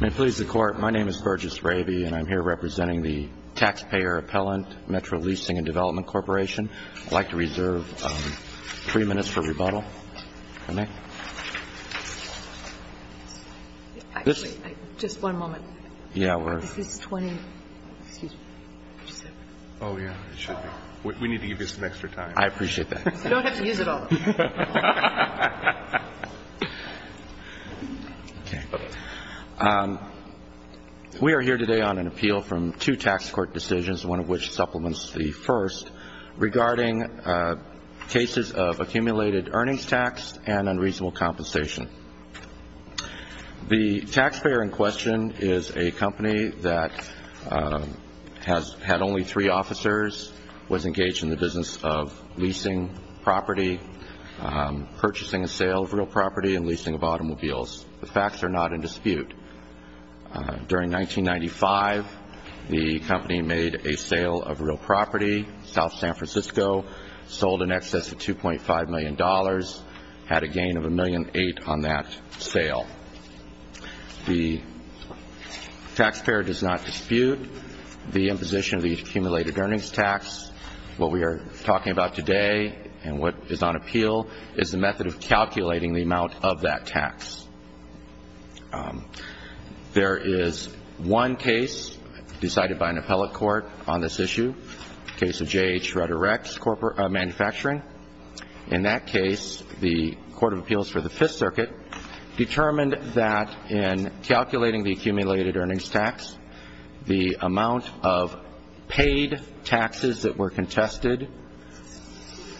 May it please the Court, my name is Burgess Raby and I'm here representing the Taxpayer Appellant, METRO Leasing and Development Corporation. I'd like to reserve three minutes for rebuttal. We are here today on an appeal from two tax court decisions, one of which supplements the first, regarding cases of accumulated earnings loss and other cases of accumulated earnings loss. The taxpayer in question is a company that has had only three officers, was engaged in the business of leasing property, purchasing a sale of real property and leasing of automobiles. The facts are not in dispute. During 1995, the company made a sale of real property, South San Francisco, sold in excess of $2.5 million, had a gain of $1.8 million on that sale. The taxpayer does not dispute the imposition of the accumulated earnings tax. What we are talking about today and what is on appeal is the method of calculating the amount of that tax. There is one case decided by an appellate court on this issue, the case of J.H. Rederects Manufacturing. In that case, the Court of Appeals for the Fifth Circuit determined that in calculating the accumulated earnings tax, the amount of paid taxes that were contested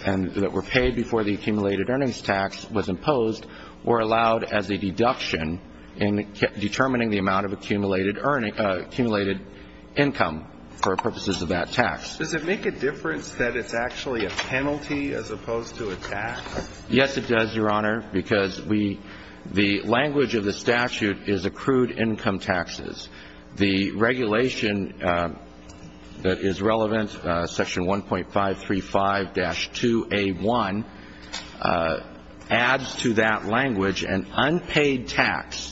and that were paid before the accumulated earnings tax was imposed were allowed as a deduction in determining the amount of accumulated income for purposes of that tax. Does it make a difference that it's actually a penalty as opposed to a tax? Yes, it does, Your Honor, because the language of the statute is accrued income taxes. The regulation that is relevant, Section 1.535-2A1, adds to that language an unpaid tax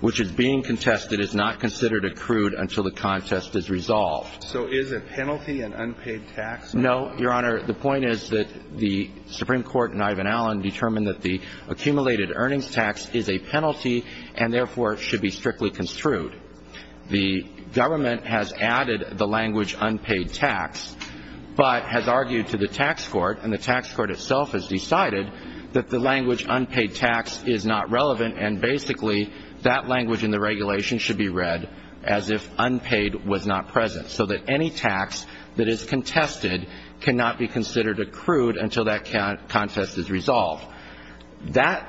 which is being contested is not considered accrued until the contest is resolved. So is a penalty an unpaid tax? No, Your Honor. The point is that the Supreme Court and Ivan Allen determined that the accumulated earnings tax is a penalty and therefore should be strictly construed. The government has added the language unpaid tax but has argued to the tax court and the tax court itself has decided that the language unpaid tax is not relevant and basically that language in the regulation should be read as if unpaid was not present. So that any tax that is contested cannot be considered accrued until that contest is resolved. That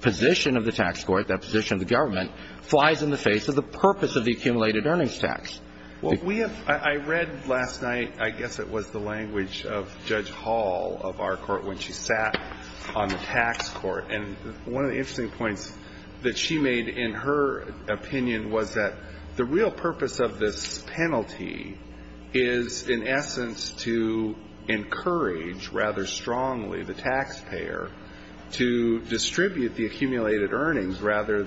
position of the tax court, that position of the government, flies in the face of the purpose of the accumulated earnings tax. Well, we have – I read last night, I guess it was the language of Judge Hall of our court when she sat on the tax court. And one of the interesting points that she made in her opinion was that the real purpose of this penalty is in essence to encourage rather strongly the taxpayer to distribute dividends, but the actual amount of the tax is determined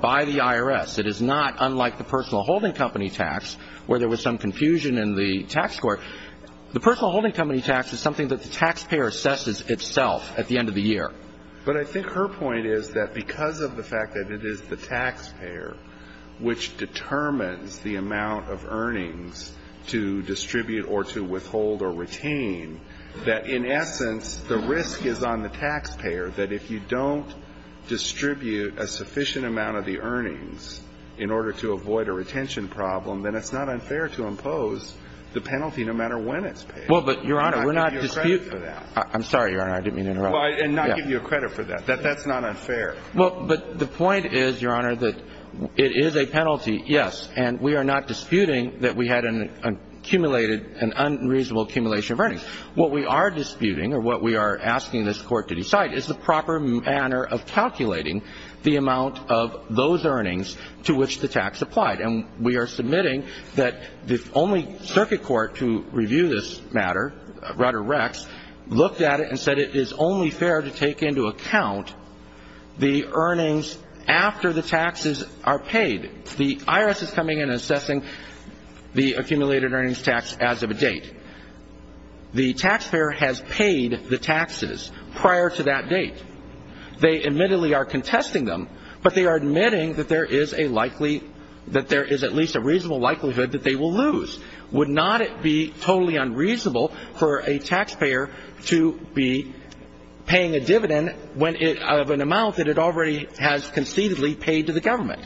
by the IRS. It is not unlike the personal holding company tax where there was some confusion in the tax court. The personal holding company tax is something that the taxpayer assesses itself at the end of the year. But I think her point is that because of the fact that it is the taxpayer which determines the amount of earnings to distribute or to withhold or retain, that in essence the risk is on the taxpayer that if you don't distribute a sufficient amount of the earnings in order to avoid a retention problem, then it's not unfair to impose the penalty no matter when it's paid. Well, but, Your Honor, we're not disputing that. I'm sorry, Your Honor. I didn't mean to interrupt. And not give you credit for that. That's not unfair. Well, but the point is, Your Honor, that it is a penalty, yes. What we are disputing or what we are asking this Court to decide is the proper manner of calculating the amount of those earnings to which the tax applied. And we are submitting that the only circuit court to review this matter, Rutter-Rex, looked at it and said it is only fair to take into account the earnings after the taxes are paid. The IRS is coming in and assessing the accumulated earnings tax as of a date. The taxpayer has paid the taxes prior to that date. They admittedly are contesting them, but they are admitting that there is at least a reasonable likelihood that they will lose. Would not it be totally unreasonable for a taxpayer to be paying a dividend of an amount that it already has concededly paid to the government?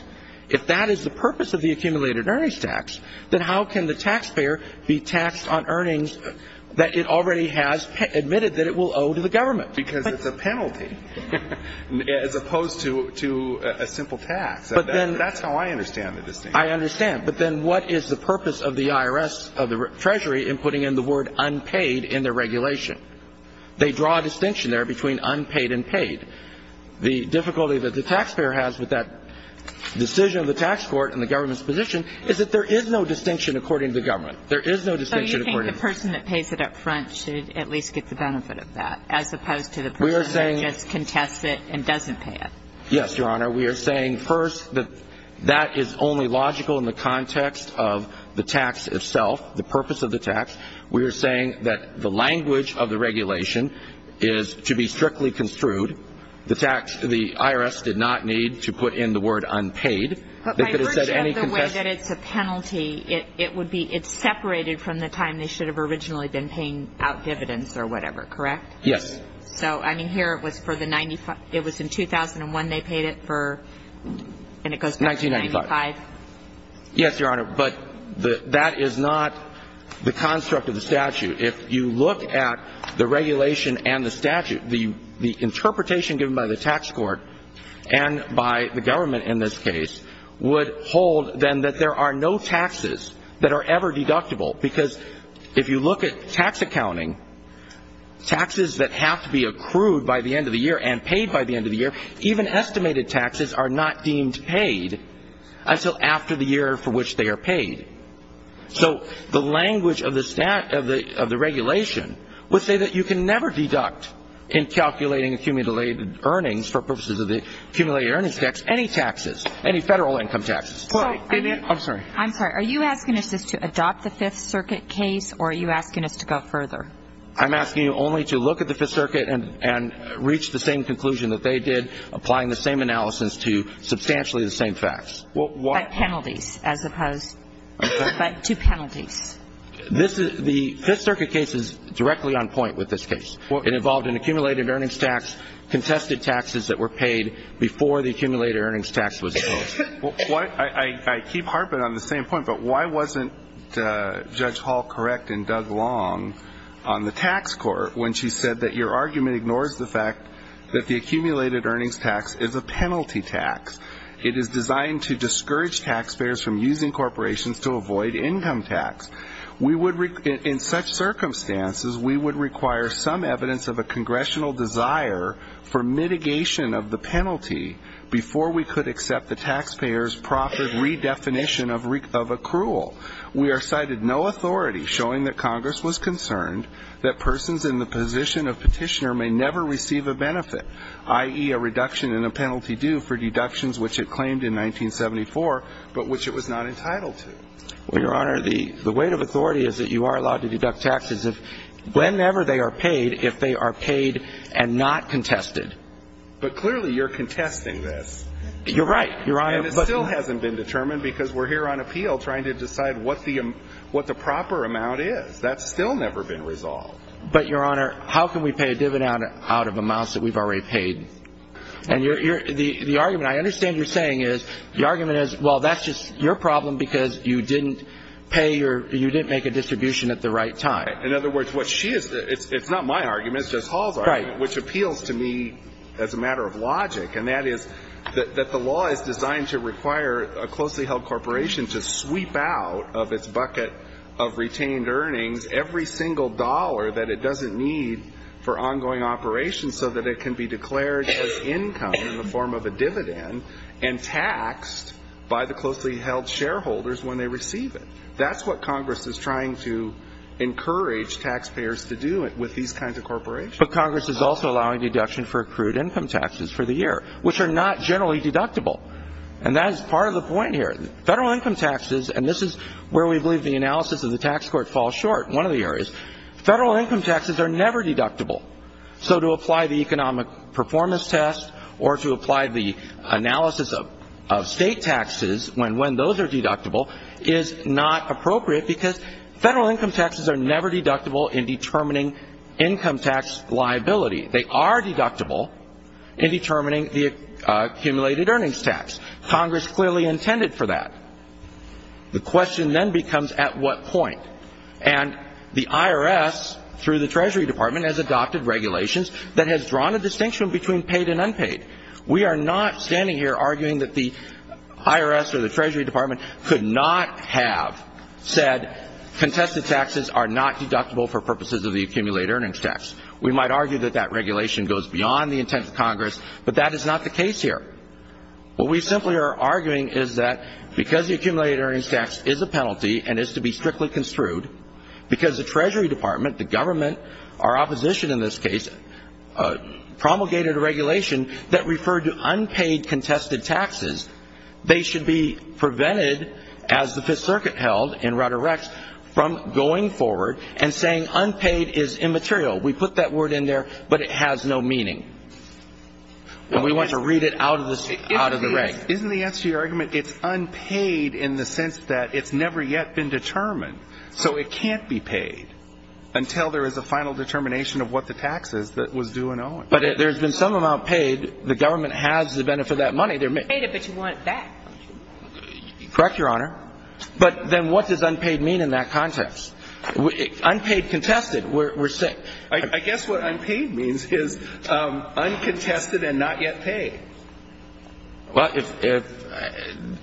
If that is the purpose of the accumulated earnings tax, then how can the taxpayer be taxed on earnings that it already has admitted that it will owe to the government? Because it's a penalty as opposed to a simple tax. That's how I understand the distinction. I understand. But then what is the purpose of the IRS, of the Treasury, in putting in the word unpaid in their regulation? They draw a distinction there between unpaid and paid. The difficulty that the taxpayer has with that decision of the tax court and the government's position is that there is no distinction according to the government. There is no distinction according to the government. So you think the person that pays it up front should at least get the benefit of that as opposed to the person that just contests it and doesn't pay it? Yes, Your Honor. We are saying first that that is only logical in the context of the tax itself, the purpose of the tax. We are saying that the language of the regulation is to be strictly construed. The IRS did not need to put in the word unpaid. But by virtue of the way that it's a penalty, it's separated from the time they should have originally been paying out dividends or whatever, correct? Yes. So, I mean, here it was in 2001 they paid it for, and it goes back to 1995? 1995. Yes, Your Honor. But that is not the construct of the statute. If you look at the regulation and the statute, the interpretation given by the tax court and by the government in this case would hold, then, that there are no taxes that are ever deductible. Because if you look at tax accounting, taxes that have to be accrued by the end of the year and paid by the end of the year, even estimated taxes are not deemed paid until after the year for which they are paid. So the language of the regulation would say that you can never deduct in calculating accumulated earnings for purposes of the accumulated earnings tax any taxes, any federal income taxes. I'm sorry. Are you asking us to adopt the Fifth Circuit case, or are you asking us to go further? I'm asking you only to look at the Fifth Circuit and reach the same conclusion that they did, applying the same analysis to substantially the same facts. But penalties, as opposed to penalties. The Fifth Circuit case is directly on point with this case. It involved an accumulated earnings tax, contested taxes that were paid before the accumulated earnings tax was imposed. I keep harping on the same point, but why wasn't Judge Hall correct and Doug Long on the tax court when she said that your argument ignores the fact that the accumulated earnings tax is a penalty tax? It is designed to discourage taxpayers from using corporations to avoid income tax. In such circumstances, we would require some evidence of a congressional desire for mitigation of the penalty before we could accept the taxpayers' profit redefinition of accrual. We are cited no authority showing that Congress was concerned that persons in the position of petitioner may never receive a benefit, i.e., a reduction in a penalty due for deductions which it claimed in 1974, but which it was not entitled to. Well, Your Honor, the weight of authority is that you are allowed to deduct taxes whenever they are paid if they are paid and not contested. But clearly you're contesting this. You're right, Your Honor. And it still hasn't been determined because we're here on appeal trying to decide what the proper amount is. That's still never been resolved. But, Your Honor, how can we pay a dividend out of amounts that we've already paid? And the argument I understand you're saying is, the argument is, well, that's just your problem because you didn't pay your – you didn't make a distribution at the right time. In other words, what she is – it's not my argument, it's Justice Hall's argument, which appeals to me as a matter of logic, that the law is designed to require a closely held corporation to sweep out of its bucket of retained earnings every single dollar that it doesn't need for ongoing operations so that it can be declared as income in the form of a dividend and taxed by the closely held shareholders when they receive it. That's what Congress is trying to encourage taxpayers to do with these kinds of corporations. But Congress is also allowing deduction for accrued income taxes for the year, which are not generally deductible. And that is part of the point here. Federal income taxes – and this is where we believe the analysis of the tax court falls short in one of the areas – federal income taxes are never deductible. So to apply the economic performance test or to apply the analysis of state taxes when those are deductible is not appropriate because federal income taxes are never deductible in determining income tax liability. They are deductible in determining the accumulated earnings tax. Congress clearly intended for that. The question then becomes at what point. And the IRS, through the Treasury Department, has adopted regulations that has drawn a distinction between paid and unpaid. We are not standing here arguing that the IRS or the Treasury Department could not have said contested taxes are not deductible for purposes of the accumulated earnings tax. We might argue that that regulation goes beyond the intent of Congress, but that is not the case here. What we simply are arguing is that because the accumulated earnings tax is a penalty and is to be strictly construed, because the Treasury Department, the government, our opposition in this case, promulgated a regulation that referred to unpaid contested taxes, they should be prevented, as the Fifth Circuit held in Rutter-Rex, from going forward and saying unpaid is immaterial. We put that word in there, but it has no meaning. And we want to read it out of the rank. Isn't the answer to your argument it's unpaid in the sense that it's never yet been determined? So it can't be paid until there is a final determination of what the tax is that was due and owing. But there's been some amount paid. The government has the benefit of that money. You paid it, but you want it back. Correct, Your Honor. But then what does unpaid mean in that context? Unpaid contested, we're saying. I guess what unpaid means is uncontested and not yet paid. Well,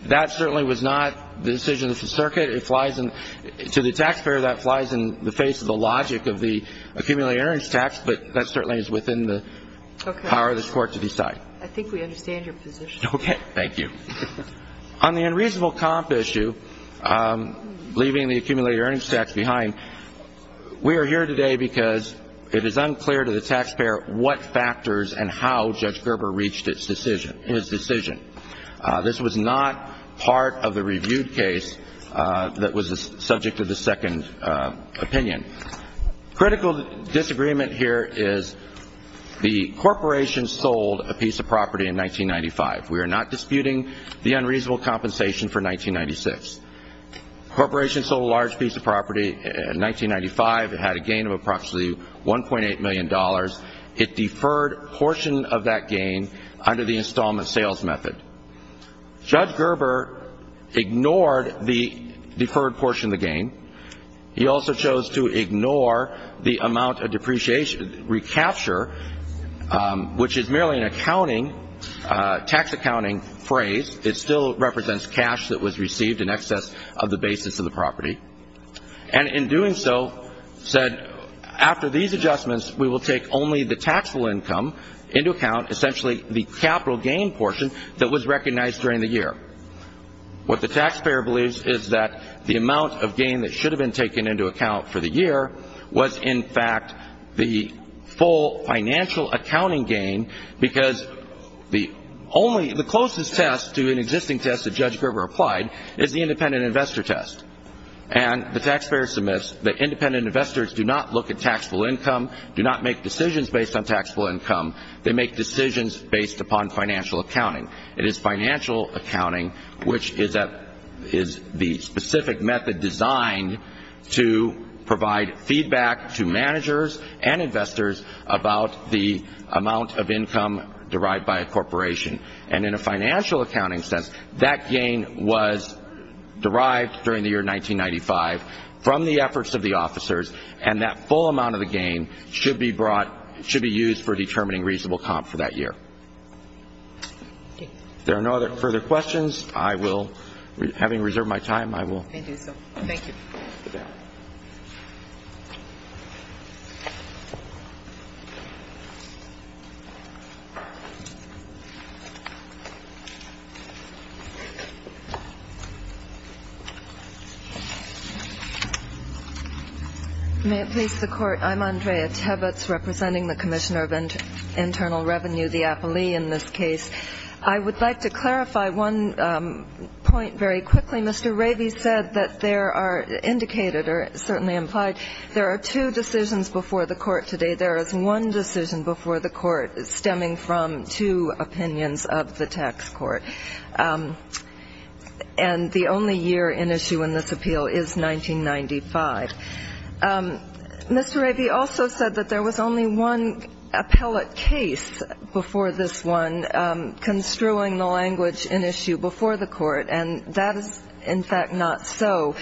that certainly was not the decision of the Circuit. To the taxpayer, that flies in the face of the logic of the accumulated earnings tax, but that certainly is within the power of this Court to decide. I think we understand your position. Okay. Thank you. On the unreasonable comp issue, leaving the accumulated earnings tax behind, we are here today because it is unclear to the taxpayer what factors and how Judge Gerber reached his decision. This was not part of the reviewed case that was the subject of the second opinion. Critical disagreement here is the corporation sold a piece of property in 1995. We are not disputing the unreasonable compensation for 1996. The corporation sold a large piece of property in 1995. It had a gain of approximately $1.8 million. It deferred a portion of that gain under the installment sales method. Judge Gerber ignored the deferred portion of the gain. He also chose to ignore the amount of depreciation recapture, which is merely an accounting, tax accounting phrase. It still represents cash that was received in excess of the basis of the property. And in doing so, said, after these adjustments, we will take only the taxable income into account, essentially the capital gain portion that was recognized during the year. What the taxpayer believes is that the amount of gain that should have been taken into account for the year was, in fact, the full financial accounting gain because the closest test to an existing test that Judge Gerber applied is the independent investor test. And the taxpayer submits that independent investors do not look at taxable income, do not make decisions based on taxable income. They make decisions based upon financial accounting. It is financial accounting which is the specific method designed to provide feedback to managers and investors about the amount of income derived by a corporation. And in a financial accounting sense, that gain was derived during the year 1995 from the efforts of the officers, and that full amount of the gain should be brought, should be used for determining reasonable comp for that year. If there are no further questions, I will, having reserved my time, I will. Let me do so. Thank you. May it please the Court, I'm Andrea Tevitz, representing the Commissioner of Internal Revenue, the appellee in this case. I would like to clarify one point very quickly. Mr. Ravy said that there are indicated, or certainly implied, there are two decisions before the Court today. There is one decision before the Court stemming from two opinions of the tax court. And the only year in issue in this appeal is 1995. Mr. Ravy also said that there was only one appellate case before this one construing the language in issue before the Court, and that is, in fact, not so.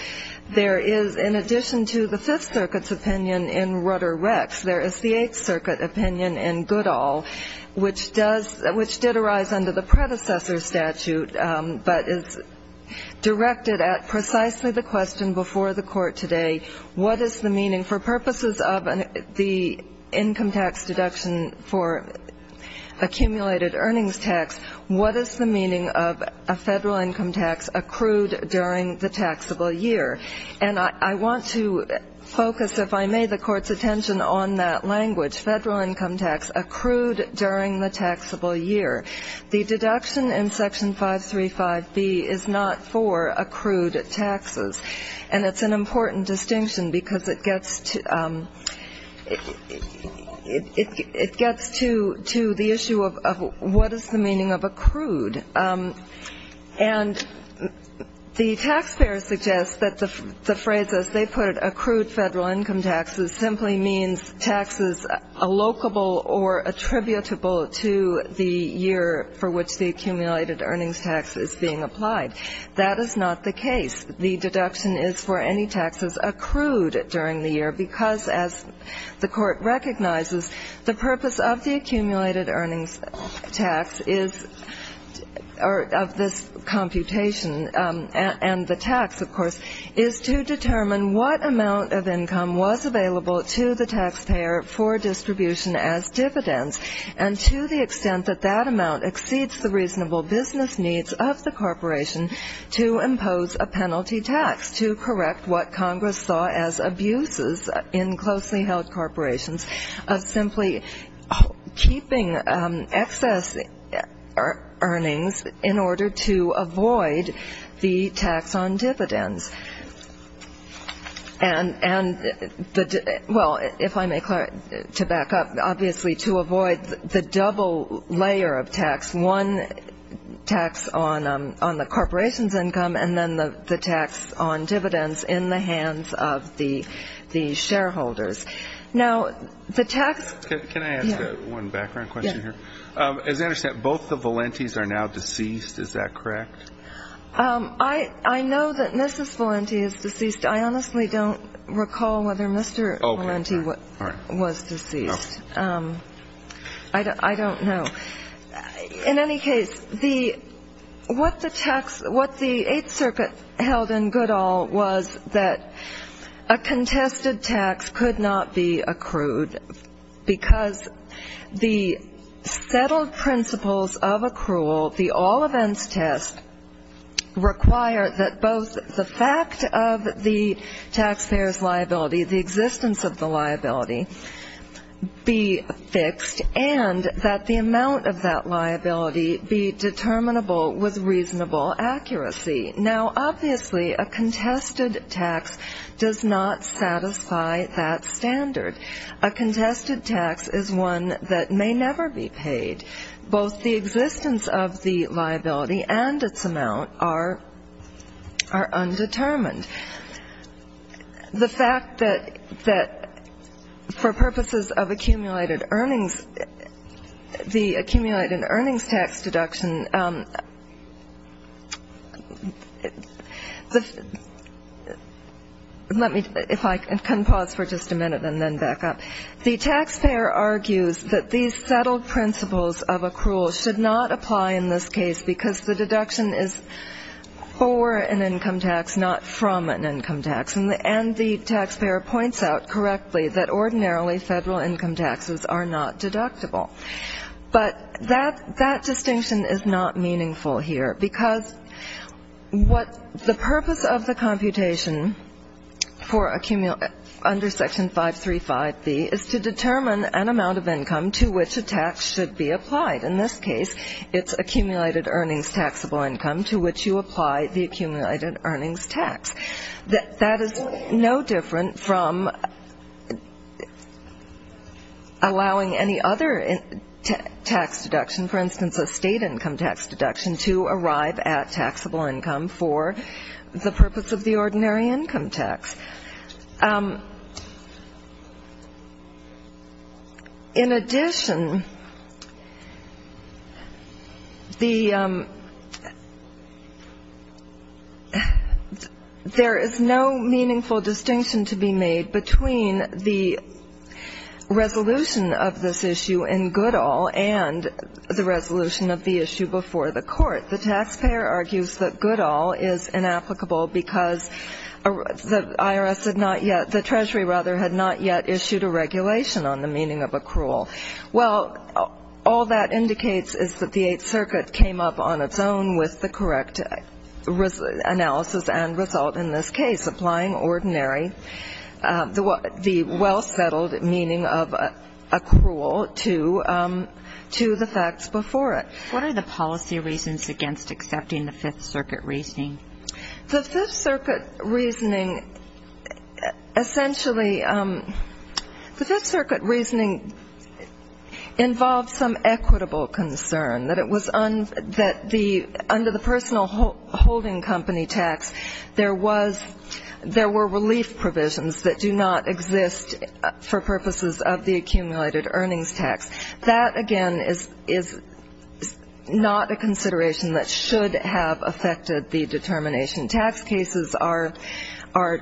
There is, in addition to the Fifth Circuit's opinion in Rudder-Rex, there is the Eighth Circuit opinion in Goodall, which did arise under the predecessor statute, but is directed at precisely the question before the Court today, what is the meaning for purposes of the income tax deduction for accumulated earnings tax, what is the meaning of a federal income tax accrued during the taxable year? And I want to focus, if I may, the Court's attention on that language, federal income tax accrued during the taxable year. The deduction in Section 535B is not for accrued taxes, and it's an important distinction because it gets to the issue of what is the meaning of accrued. And the taxpayers suggest that the phrase, as they put it, or attributable to the year for which the accumulated earnings tax is being applied. That is not the case. The deduction is for any taxes accrued during the year because, as the Court recognizes, the purpose of the accumulated earnings tax is, or of this computation and the tax, of course, is to determine what amount of income was available to the taxpayer for distribution as dividends, and to the extent that that amount exceeds the reasonable business needs of the corporation to impose a penalty tax, to correct what Congress saw as abuses in closely held corporations of simply keeping excess earnings in order to avoid the tax on dividends. And, well, if I may, to back up, obviously to avoid the double layer of tax, one tax on the corporation's income and then the tax on dividends in the hands of the shareholders. Now, the tax — Can I ask one background question here? Yes. As I understand, both the Valentis are now deceased. Is that correct? I know that Mrs. Valenti is deceased. I honestly don't recall whether Mr. Valenti was deceased. I don't know. In any case, what the Eighth Circuit held in good all was that a contested tax could not be accrued because the settled principles of accrual, the all-events test, require that both the fact of the taxpayer's liability, the existence of the liability, be fixed, and that the amount of that liability be determinable with reasonable accuracy. Now, obviously, a contested tax does not satisfy that standard. A contested tax is one that may never be paid. Both the existence of the liability and its amount are undetermined. The fact that for purposes of accumulated earnings, the accumulated earnings tax deduction — let me, if I can pause for just a minute and then back up. The taxpayer argues that these settled principles of accrual should not apply in this case because the deduction is for an income tax, not from an income tax. And the taxpayer points out correctly that ordinarily federal income taxes are not deductible. But that distinction is not meaningful here because the purpose of the computation under Section 535B is to determine an amount of income to which a tax should be applied. In this case, it's accumulated earnings taxable income to which you apply the accumulated earnings tax. That is no different from allowing any other tax deduction, for instance, a state income tax deduction, to arrive at taxable income for the purpose of the ordinary income tax. In addition, the — there is no meaningful distinction to be made between the resolution of this issue in Goodall and the resolution of the issue before the Court. The taxpayer argues that Goodall is inapplicable because the IRS had not yet — the Treasury, rather, had not yet issued a regulation on the meaning of accrual. Well, all that indicates is that the Eighth Circuit came up on its own with the correct analysis and result in this case, applying ordinary — the well-settled meaning of accrual to the facts before it. What are the policy reasons against accepting the Fifth Circuit reasoning? The Fifth Circuit reasoning — essentially, the Fifth Circuit reasoning involved some equitable concern, that it was — that the — under the personal holding company tax, there was — there were relief provisions that do not exist for purposes of the accumulated earnings tax. That, again, is not a consideration that should have affected the determination. Tax cases are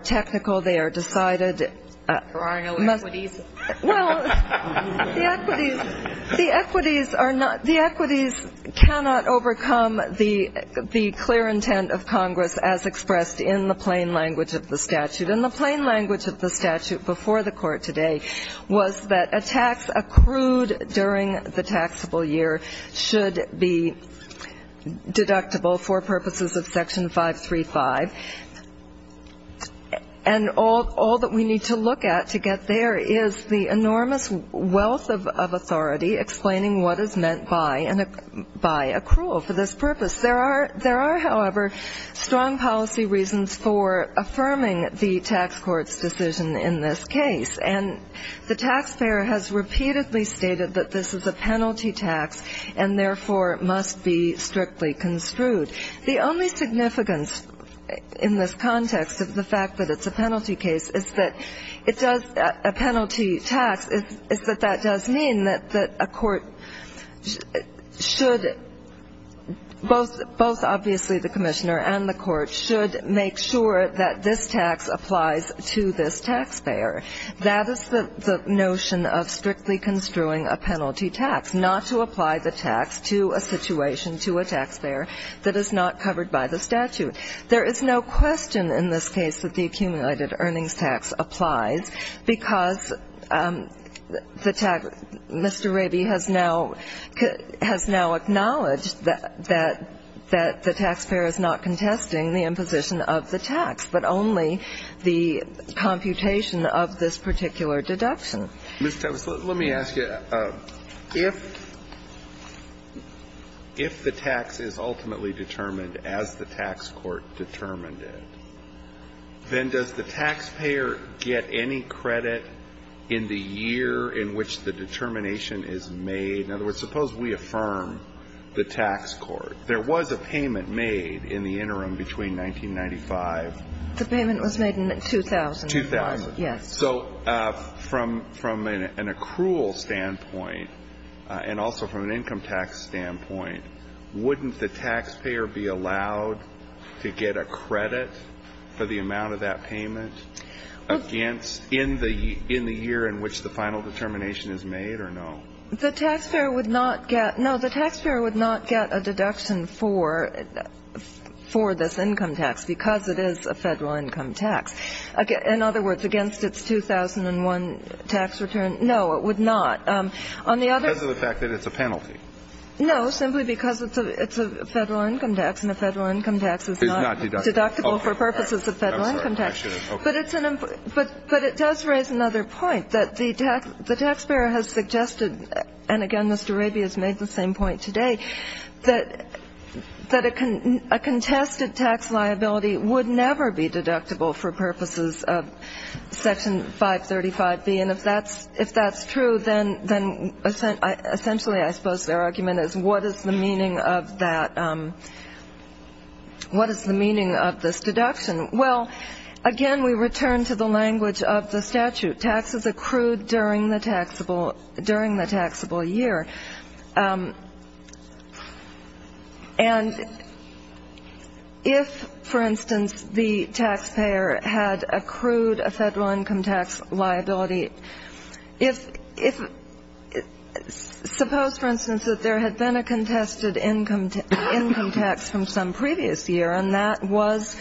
technical. They are decided. There are no equities. Well, the equities are not — the equities cannot overcome the clear intent of Congress, as expressed in the plain language of the statute. And the plain language of the statute before the Court today was that a tax accrued during the taxable year should be deductible for purposes of Section 535. And all that we need to look at to get there is the enormous wealth of authority explaining what is meant by accrual for this purpose. There are — there are, however, strong policy reasons for affirming the tax court's decision in this case. And the taxpayer has repeatedly stated that this is a penalty tax and, therefore, must be strictly construed. The only significance in this context of the fact that it's a penalty case is that it does — both, obviously, the commissioner and the court should make sure that this tax applies to this taxpayer. That is the notion of strictly construing a penalty tax, not to apply the tax to a situation to a taxpayer that is not covered by the statute. There is no question in this case that the accumulated earnings tax applies because the tax — Mr. Raby has now — has now acknowledged that — that the taxpayer is not contesting the imposition of the tax, but only the computation of this particular deduction. Mr. Tavis, let me ask you, if — if the tax is ultimately determined as the tax court determined it, then does the taxpayer get any credit in the year in which the determination is made? In other words, suppose we affirm the tax court. There was a payment made in the interim between 1995 — The payment was made in 2000. 2000. Yes. So from — from an accrual standpoint, and also from an income tax standpoint, wouldn't the taxpayer be allowed to get a credit for the amount of that payment against — in the — in the year in which the final determination is made, or no? The taxpayer would not get — no, the taxpayer would not get a deduction for — for this income tax because it is a Federal income tax. In other words, against its 2001 tax return. No, it would not. On the other — Because of the fact that it's a penalty. No, simply because it's a — it's a Federal income tax, and a Federal income tax is not — Is not deductible. — deductible for purposes of Federal income tax. I'm sorry. I should have — okay. But it's an — but it does raise another point, that the taxpayer has suggested — and again, Mr. Raby has made the same point today — that a contested tax liability would never be deductible for purposes of Section 535B. And if that's — if that's true, then essentially, I suppose, their argument is, what is the meaning of that — what is the meaning of this deduction? Well, again, we return to the language of the statute. Taxes accrued during the taxable — during the taxable year. And if, for instance, the taxpayer had accrued a Federal income tax liability, if — suppose, for instance, that there had been a contested income tax from some previous year, and that was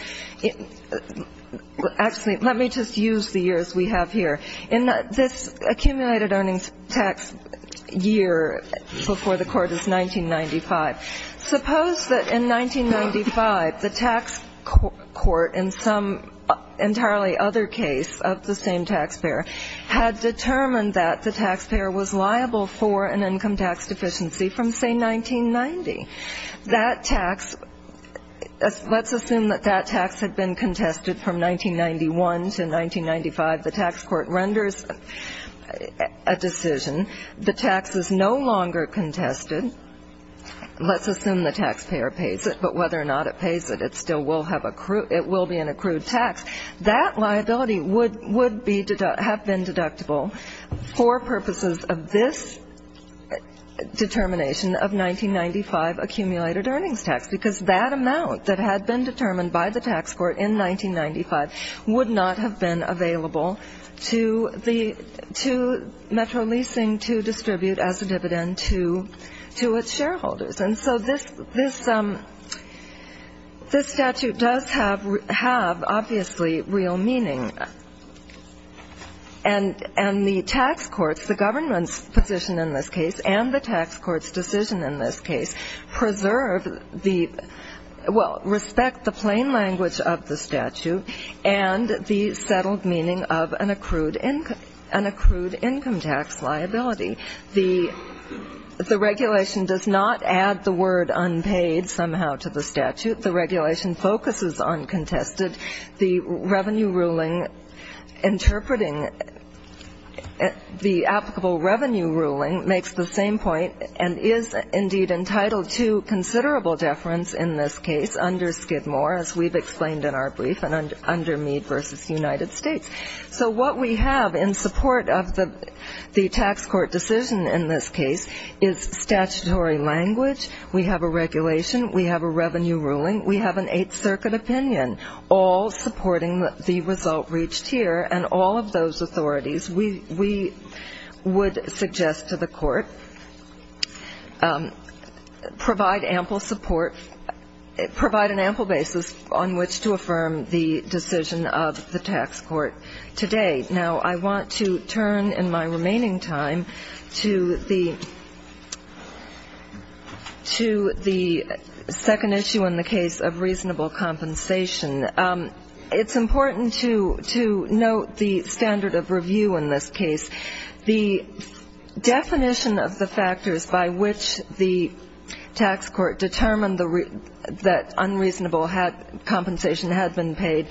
— actually, let me just use the years we have here. In this accumulated earnings tax year before the Court, it's 1995. Suppose that in 1995, the tax court in some entirely other case of the same taxpayer had determined that the taxpayer was liable for an income tax deficiency from, say, 1990. That tax — let's assume that that tax had been contested from 1991 to 1995. The tax court renders a decision. The tax is no longer contested. Let's assume the taxpayer pays it. But whether or not it pays it, it still will have — it will be an accrued tax. That liability would — would be — have been deductible for purposes of this determination of 1995 accumulated earnings tax, because that amount that had been determined by the tax court in 1995 would not have been available to the — to Metro Leasing to distribute as a dividend to its shareholders. And so this — this statute does have, obviously, real meaning. And the tax courts, the government's position in this case, and the tax court's decision in this case, preserve the — well, respect the plain language of the statute and the settled meaning of an accrued — an accrued income tax liability. The regulation does not add the word unpaid somehow to the statute. The regulation focuses on contested. The revenue ruling interpreting — the applicable revenue ruling makes the same point and is, indeed, entitled to considerable deference in this case under Skidmore, as we've explained in our brief, and under Meade v. United States. So what we have in support of the tax court decision in this case is statutory language. We have a regulation. We have a revenue ruling. We have an Eighth Circuit opinion, all supporting the result reached here. And all of those authorities, we would suggest to the court, provide ample support, provide an ample basis on which to affirm the decision of the tax court today. Now, I want to turn in my remaining time to the second issue in the case of reasonable compensation. It's important to note the standard of review in this case. The definition of the factors by which the tax court determined that unreasonable compensation had been paid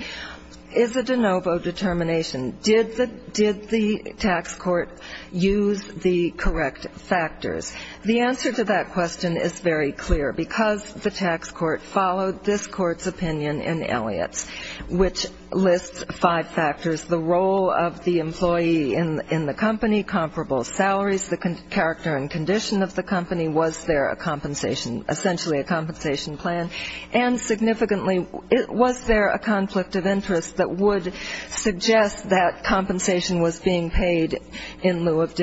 is a de novo determination. Did the tax court use the correct factors? The answer to that question is very clear, because the tax court followed this court's opinion in Elliott's, which lists five factors, the role of the employee in the company, comparable salaries, the character and condition of the company, was there a compensation — essentially a compensation plan, and significantly, was there a conflict of interest that would suggest that compensation was being paid in lieu of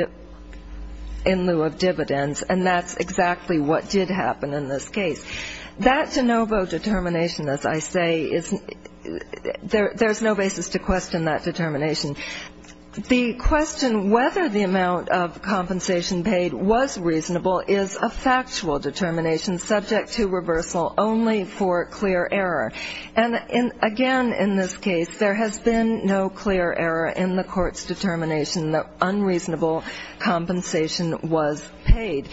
dividends, and that's exactly what did happen in this case. That de novo determination, as I say, there's no basis to question that determination. The question whether the amount of compensation paid was reasonable is a factual determination, subject to reversal, only for clear error. And again, in this case, there has been no clear error in the court's determination that unreasonable compensation was paid.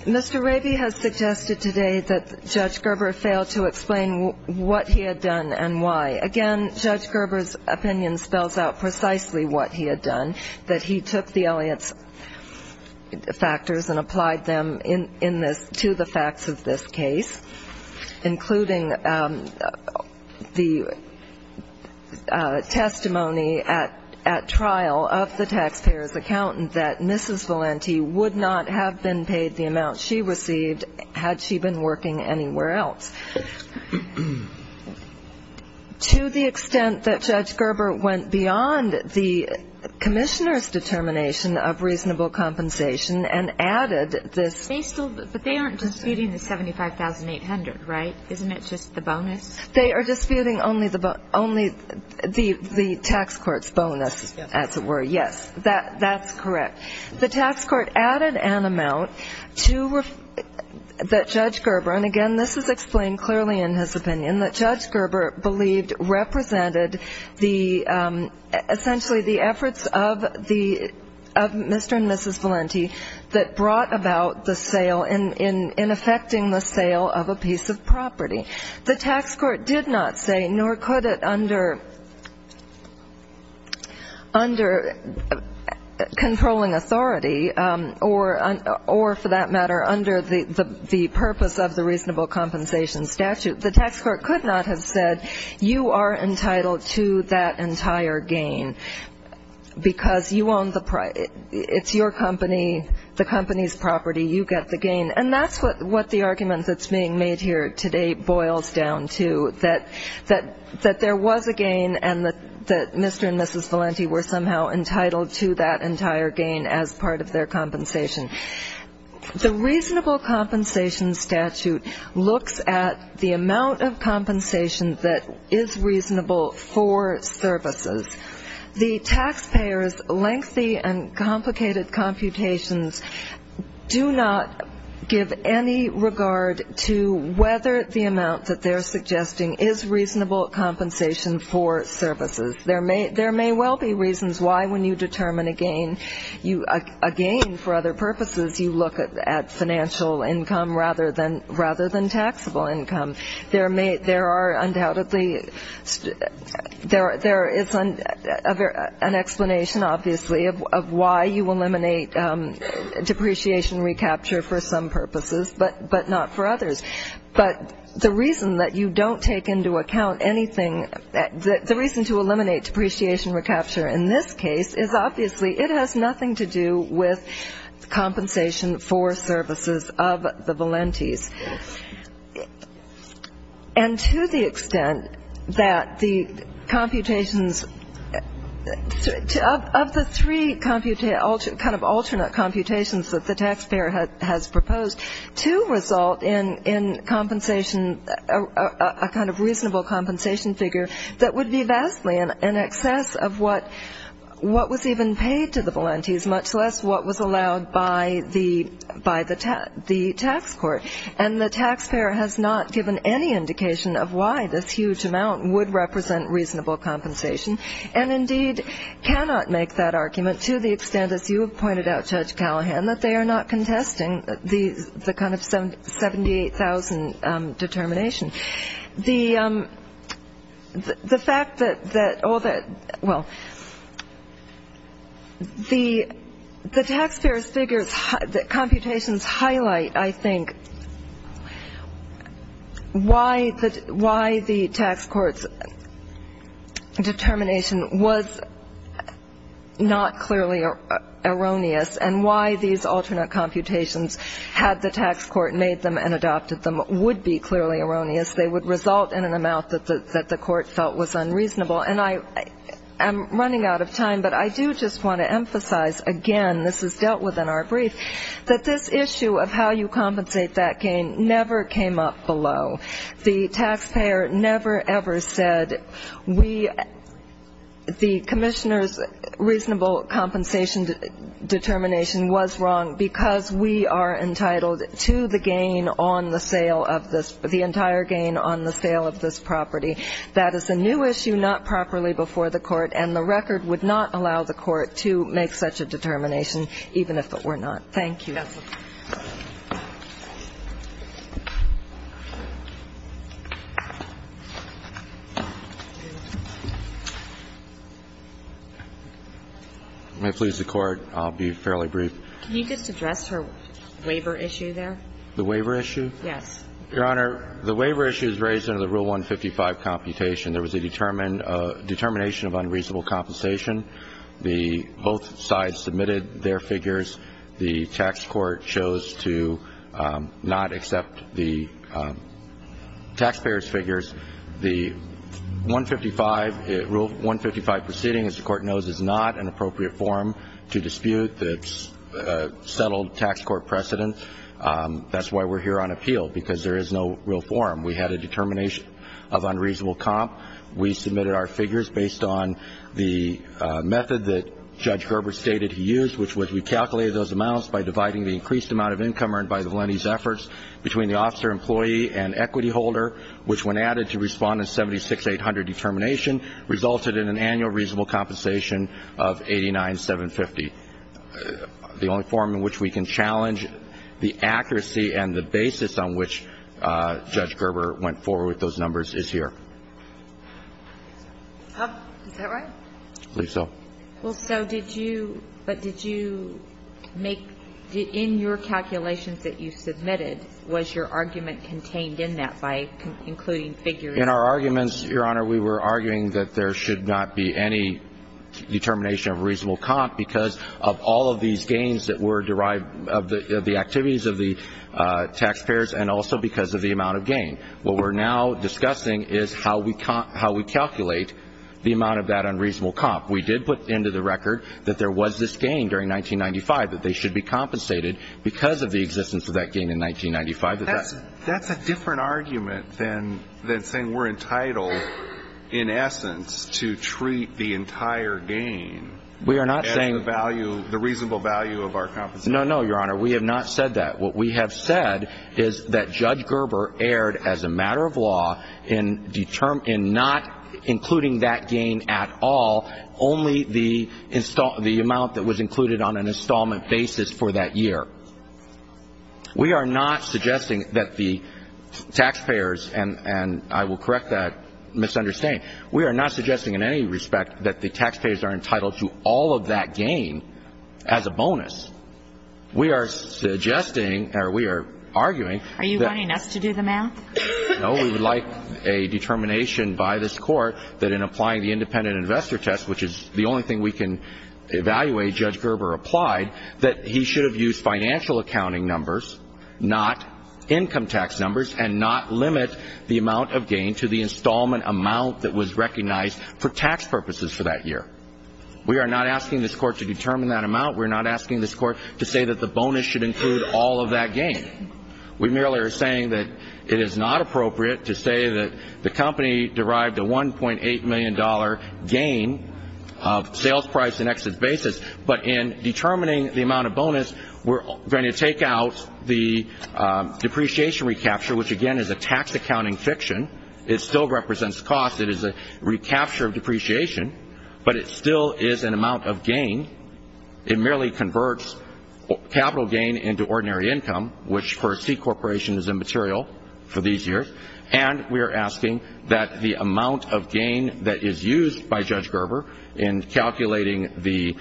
Mr. Raby has suggested today that Judge Gerber failed to explain what he had done and why. Again, Judge Gerber's opinion spells out precisely what he had done, that he took the Elliott's factors and applied them in this — to the facts of this case, including the testimony at trial of the taxpayer's accountant, that Mrs. Valenti would not have been paid the amount she received had she been working anywhere else. To the extent that Judge Gerber went beyond the commissioner's determination of reasonable compensation and added this — Isn't it just the bonus? They are disputing only the tax court's bonus, as it were. Yes, that's correct. The tax court added an amount to — that Judge Gerber — and again, this is explained clearly in his opinion — that Judge Gerber believed represented the — essentially the efforts of Mr. and Mrs. Valenti that brought about the sale in effecting the sale of a piece of property. The tax court did not say, nor could it under controlling authority or, for that matter, under the purpose of the reasonable compensation statute, the tax court could not have said, you are entitled to that entire gain because you own the — it's your company, the company's property, you get the gain. And that's what the argument that's being made here today boils down to, that there was a gain and that Mr. and Mrs. Valenti were somehow entitled to that entire gain as part of their compensation. The reasonable compensation statute looks at the amount of compensation that is reasonable for services. The taxpayers' lengthy and complicated computations do not give any regard to whether the amount that they're suggesting is reasonable compensation for services. There may well be reasons why when you determine a gain, a gain for other purposes, you look at financial income rather than taxable income. There are undoubtedly — there is an explanation, obviously, of why you eliminate depreciation recapture for some purposes but not for others. But the reason that you don't take into account anything — the reason to eliminate depreciation recapture in this case is, obviously, it has nothing to do with compensation for services of the Valentis. And to the extent that the computations — of the three kind of alternate computations that the taxpayer has proposed to result in compensation — a kind of reasonable compensation figure that would be vastly in excess of what was even paid to the Valentis, much less what was allowed by the tax court. And the taxpayer has not given any indication of why this huge amount would represent reasonable compensation and indeed cannot make that argument to the extent, as you have pointed out, Judge Callahan, that they are not contesting the kind of 78,000 determination. The fact that all the — well, the taxpayer's figures, the computations highlight, I think, why the tax court's determination was not clearly erroneous and why these alternate computations, had the tax court made them and adopted them, would be clearly erroneous. They would result in an amount that the court felt was unreasonable. And I am running out of time, but I do just want to emphasize again — this is dealt with in our brief — that this issue of how you compensate that gain never came up below. The taxpayer never, ever said we — the commissioner's reasonable compensation determination was wrong because we are entitled to the gain on the sale of this — the entire gain on the sale of this property. That is a new issue, not properly before the court, and the record would not allow the court to make such a determination even if it were not. Thank you. May it please the Court. I'll be fairly brief. Can you just address her waiver issue there? The waiver issue? Yes. Your Honor, the waiver issue is raised under the Rule 155 computation. There was a determination of unreasonable compensation. Both sides submitted their figures. The tax court chose to not accept the taxpayer's figures. The Rule 155 proceeding, as the court knows, is not an appropriate forum to dispute the settled tax court precedent. That's why we're here on appeal, because there is no real forum. We had a determination of unreasonable comp. We submitted our figures based on the method that Judge Gerber stated he used, which was we calculated those amounts by dividing the increased amount of income earned by the lenny's efforts between the officer-employee and equity holder, which when added to Respondent 76800 determination resulted in an annual reasonable compensation of $89,750. The only forum in which we can challenge the accuracy and the basis on which Judge Gerber went forward with those numbers is here. Is that right? I believe so. Well, so did you, but did you make, in your calculations that you submitted, was your argument contained in that by including figures? In our arguments, Your Honor, we were arguing that there should not be any determination of reasonable comp because of all of these gains that were derived of the activities of the taxpayers and also because of the amount of gain. What we're now discussing is how we calculate the amount of that unreasonable comp. We did put into the record that there was this gain during 1995, that they should be compensated because of the existence of that gain in 1995. That's a different argument than saying we're entitled, in essence, to treat the entire gain as the value, the reasonable value of our compensation. No, no, Your Honor. We have not said that. What we have said is that Judge Gerber erred as a matter of law in not including that gain at all, only the amount that was included on an installment basis for that year. We are not suggesting that the taxpayers, and I will correct that misunderstanding, we are not suggesting in any respect that the taxpayers are entitled to all of that gain as a bonus. We are suggesting, or we are arguing that we would like a determination by this Court that in applying the independent investor test, which is the only thing we can evaluate, that he should have used financial accounting numbers, not income tax numbers, and not limit the amount of gain to the installment amount that was recognized for tax purposes for that year. We are not asking this Court to determine that amount. We are not asking this Court to say that the bonus should include all of that gain. We merely are saying that it is not appropriate to say that the company derived a $1.8 million gain of sales price but in determining the amount of bonus, we are going to take out the depreciation recapture, which again is a tax accounting fiction. It still represents cost. It is a recapture of depreciation, but it still is an amount of gain. It merely converts capital gain into ordinary income, which for a C corporation is immaterial for these years, and we are asking that the amount of gain that is used by Judge Gerber in calculating the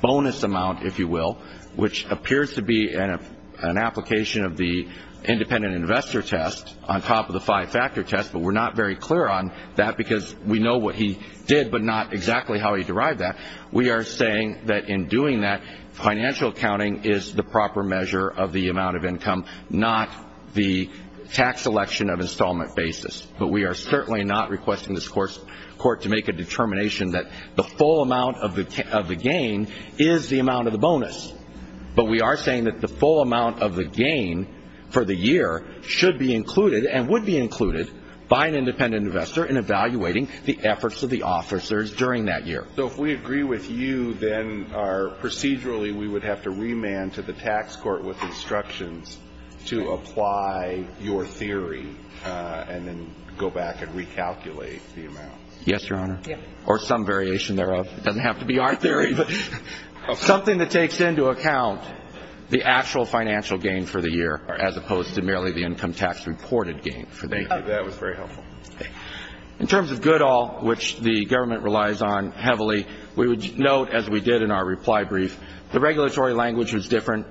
bonus amount, if you will, which appears to be an application of the independent investor test on top of the five-factor test, but we're not very clear on that because we know what he did but not exactly how he derived that. We are saying that in doing that, financial accounting is the proper measure of the amount of income, not the tax selection of installment basis, but we are certainly not requesting this Court to make a determination that the full amount of the gain is the amount of the bonus, but we are saying that the full amount of the gain for the year should be included and would be included by an independent investor in evaluating the efforts of the officers during that year. So if we agree with you, then procedurally we would have to remand to the tax court with instructions to apply your theory and then go back and recalculate the amount. Yes, Your Honor, or some variation thereof. It doesn't have to be our theory, but something that takes into account the actual financial gain for the year as opposed to merely the income tax reported gain for the year. Thank you. That was very helpful. In terms of good all, which the government relies on heavily, we would note, as we did in our reply brief, the regulatory language was different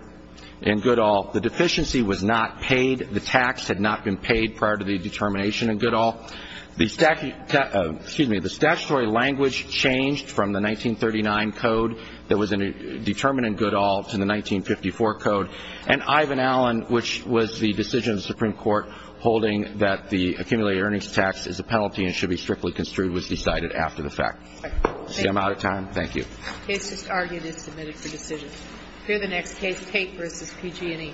in good all. The deficiency was not paid. The tax had not been paid prior to the determination in good all. The statutory language changed from the 1939 code that was determined in good all to the 1954 code, and Ivan Allen, which was the decision of the Supreme Court holding that the accumulated earnings tax is a penalty and should be strictly construed, was decided after the fact. I'm out of time. Thank you. The case is argued and submitted for decision. Here are the next case, Tate v. PG&E.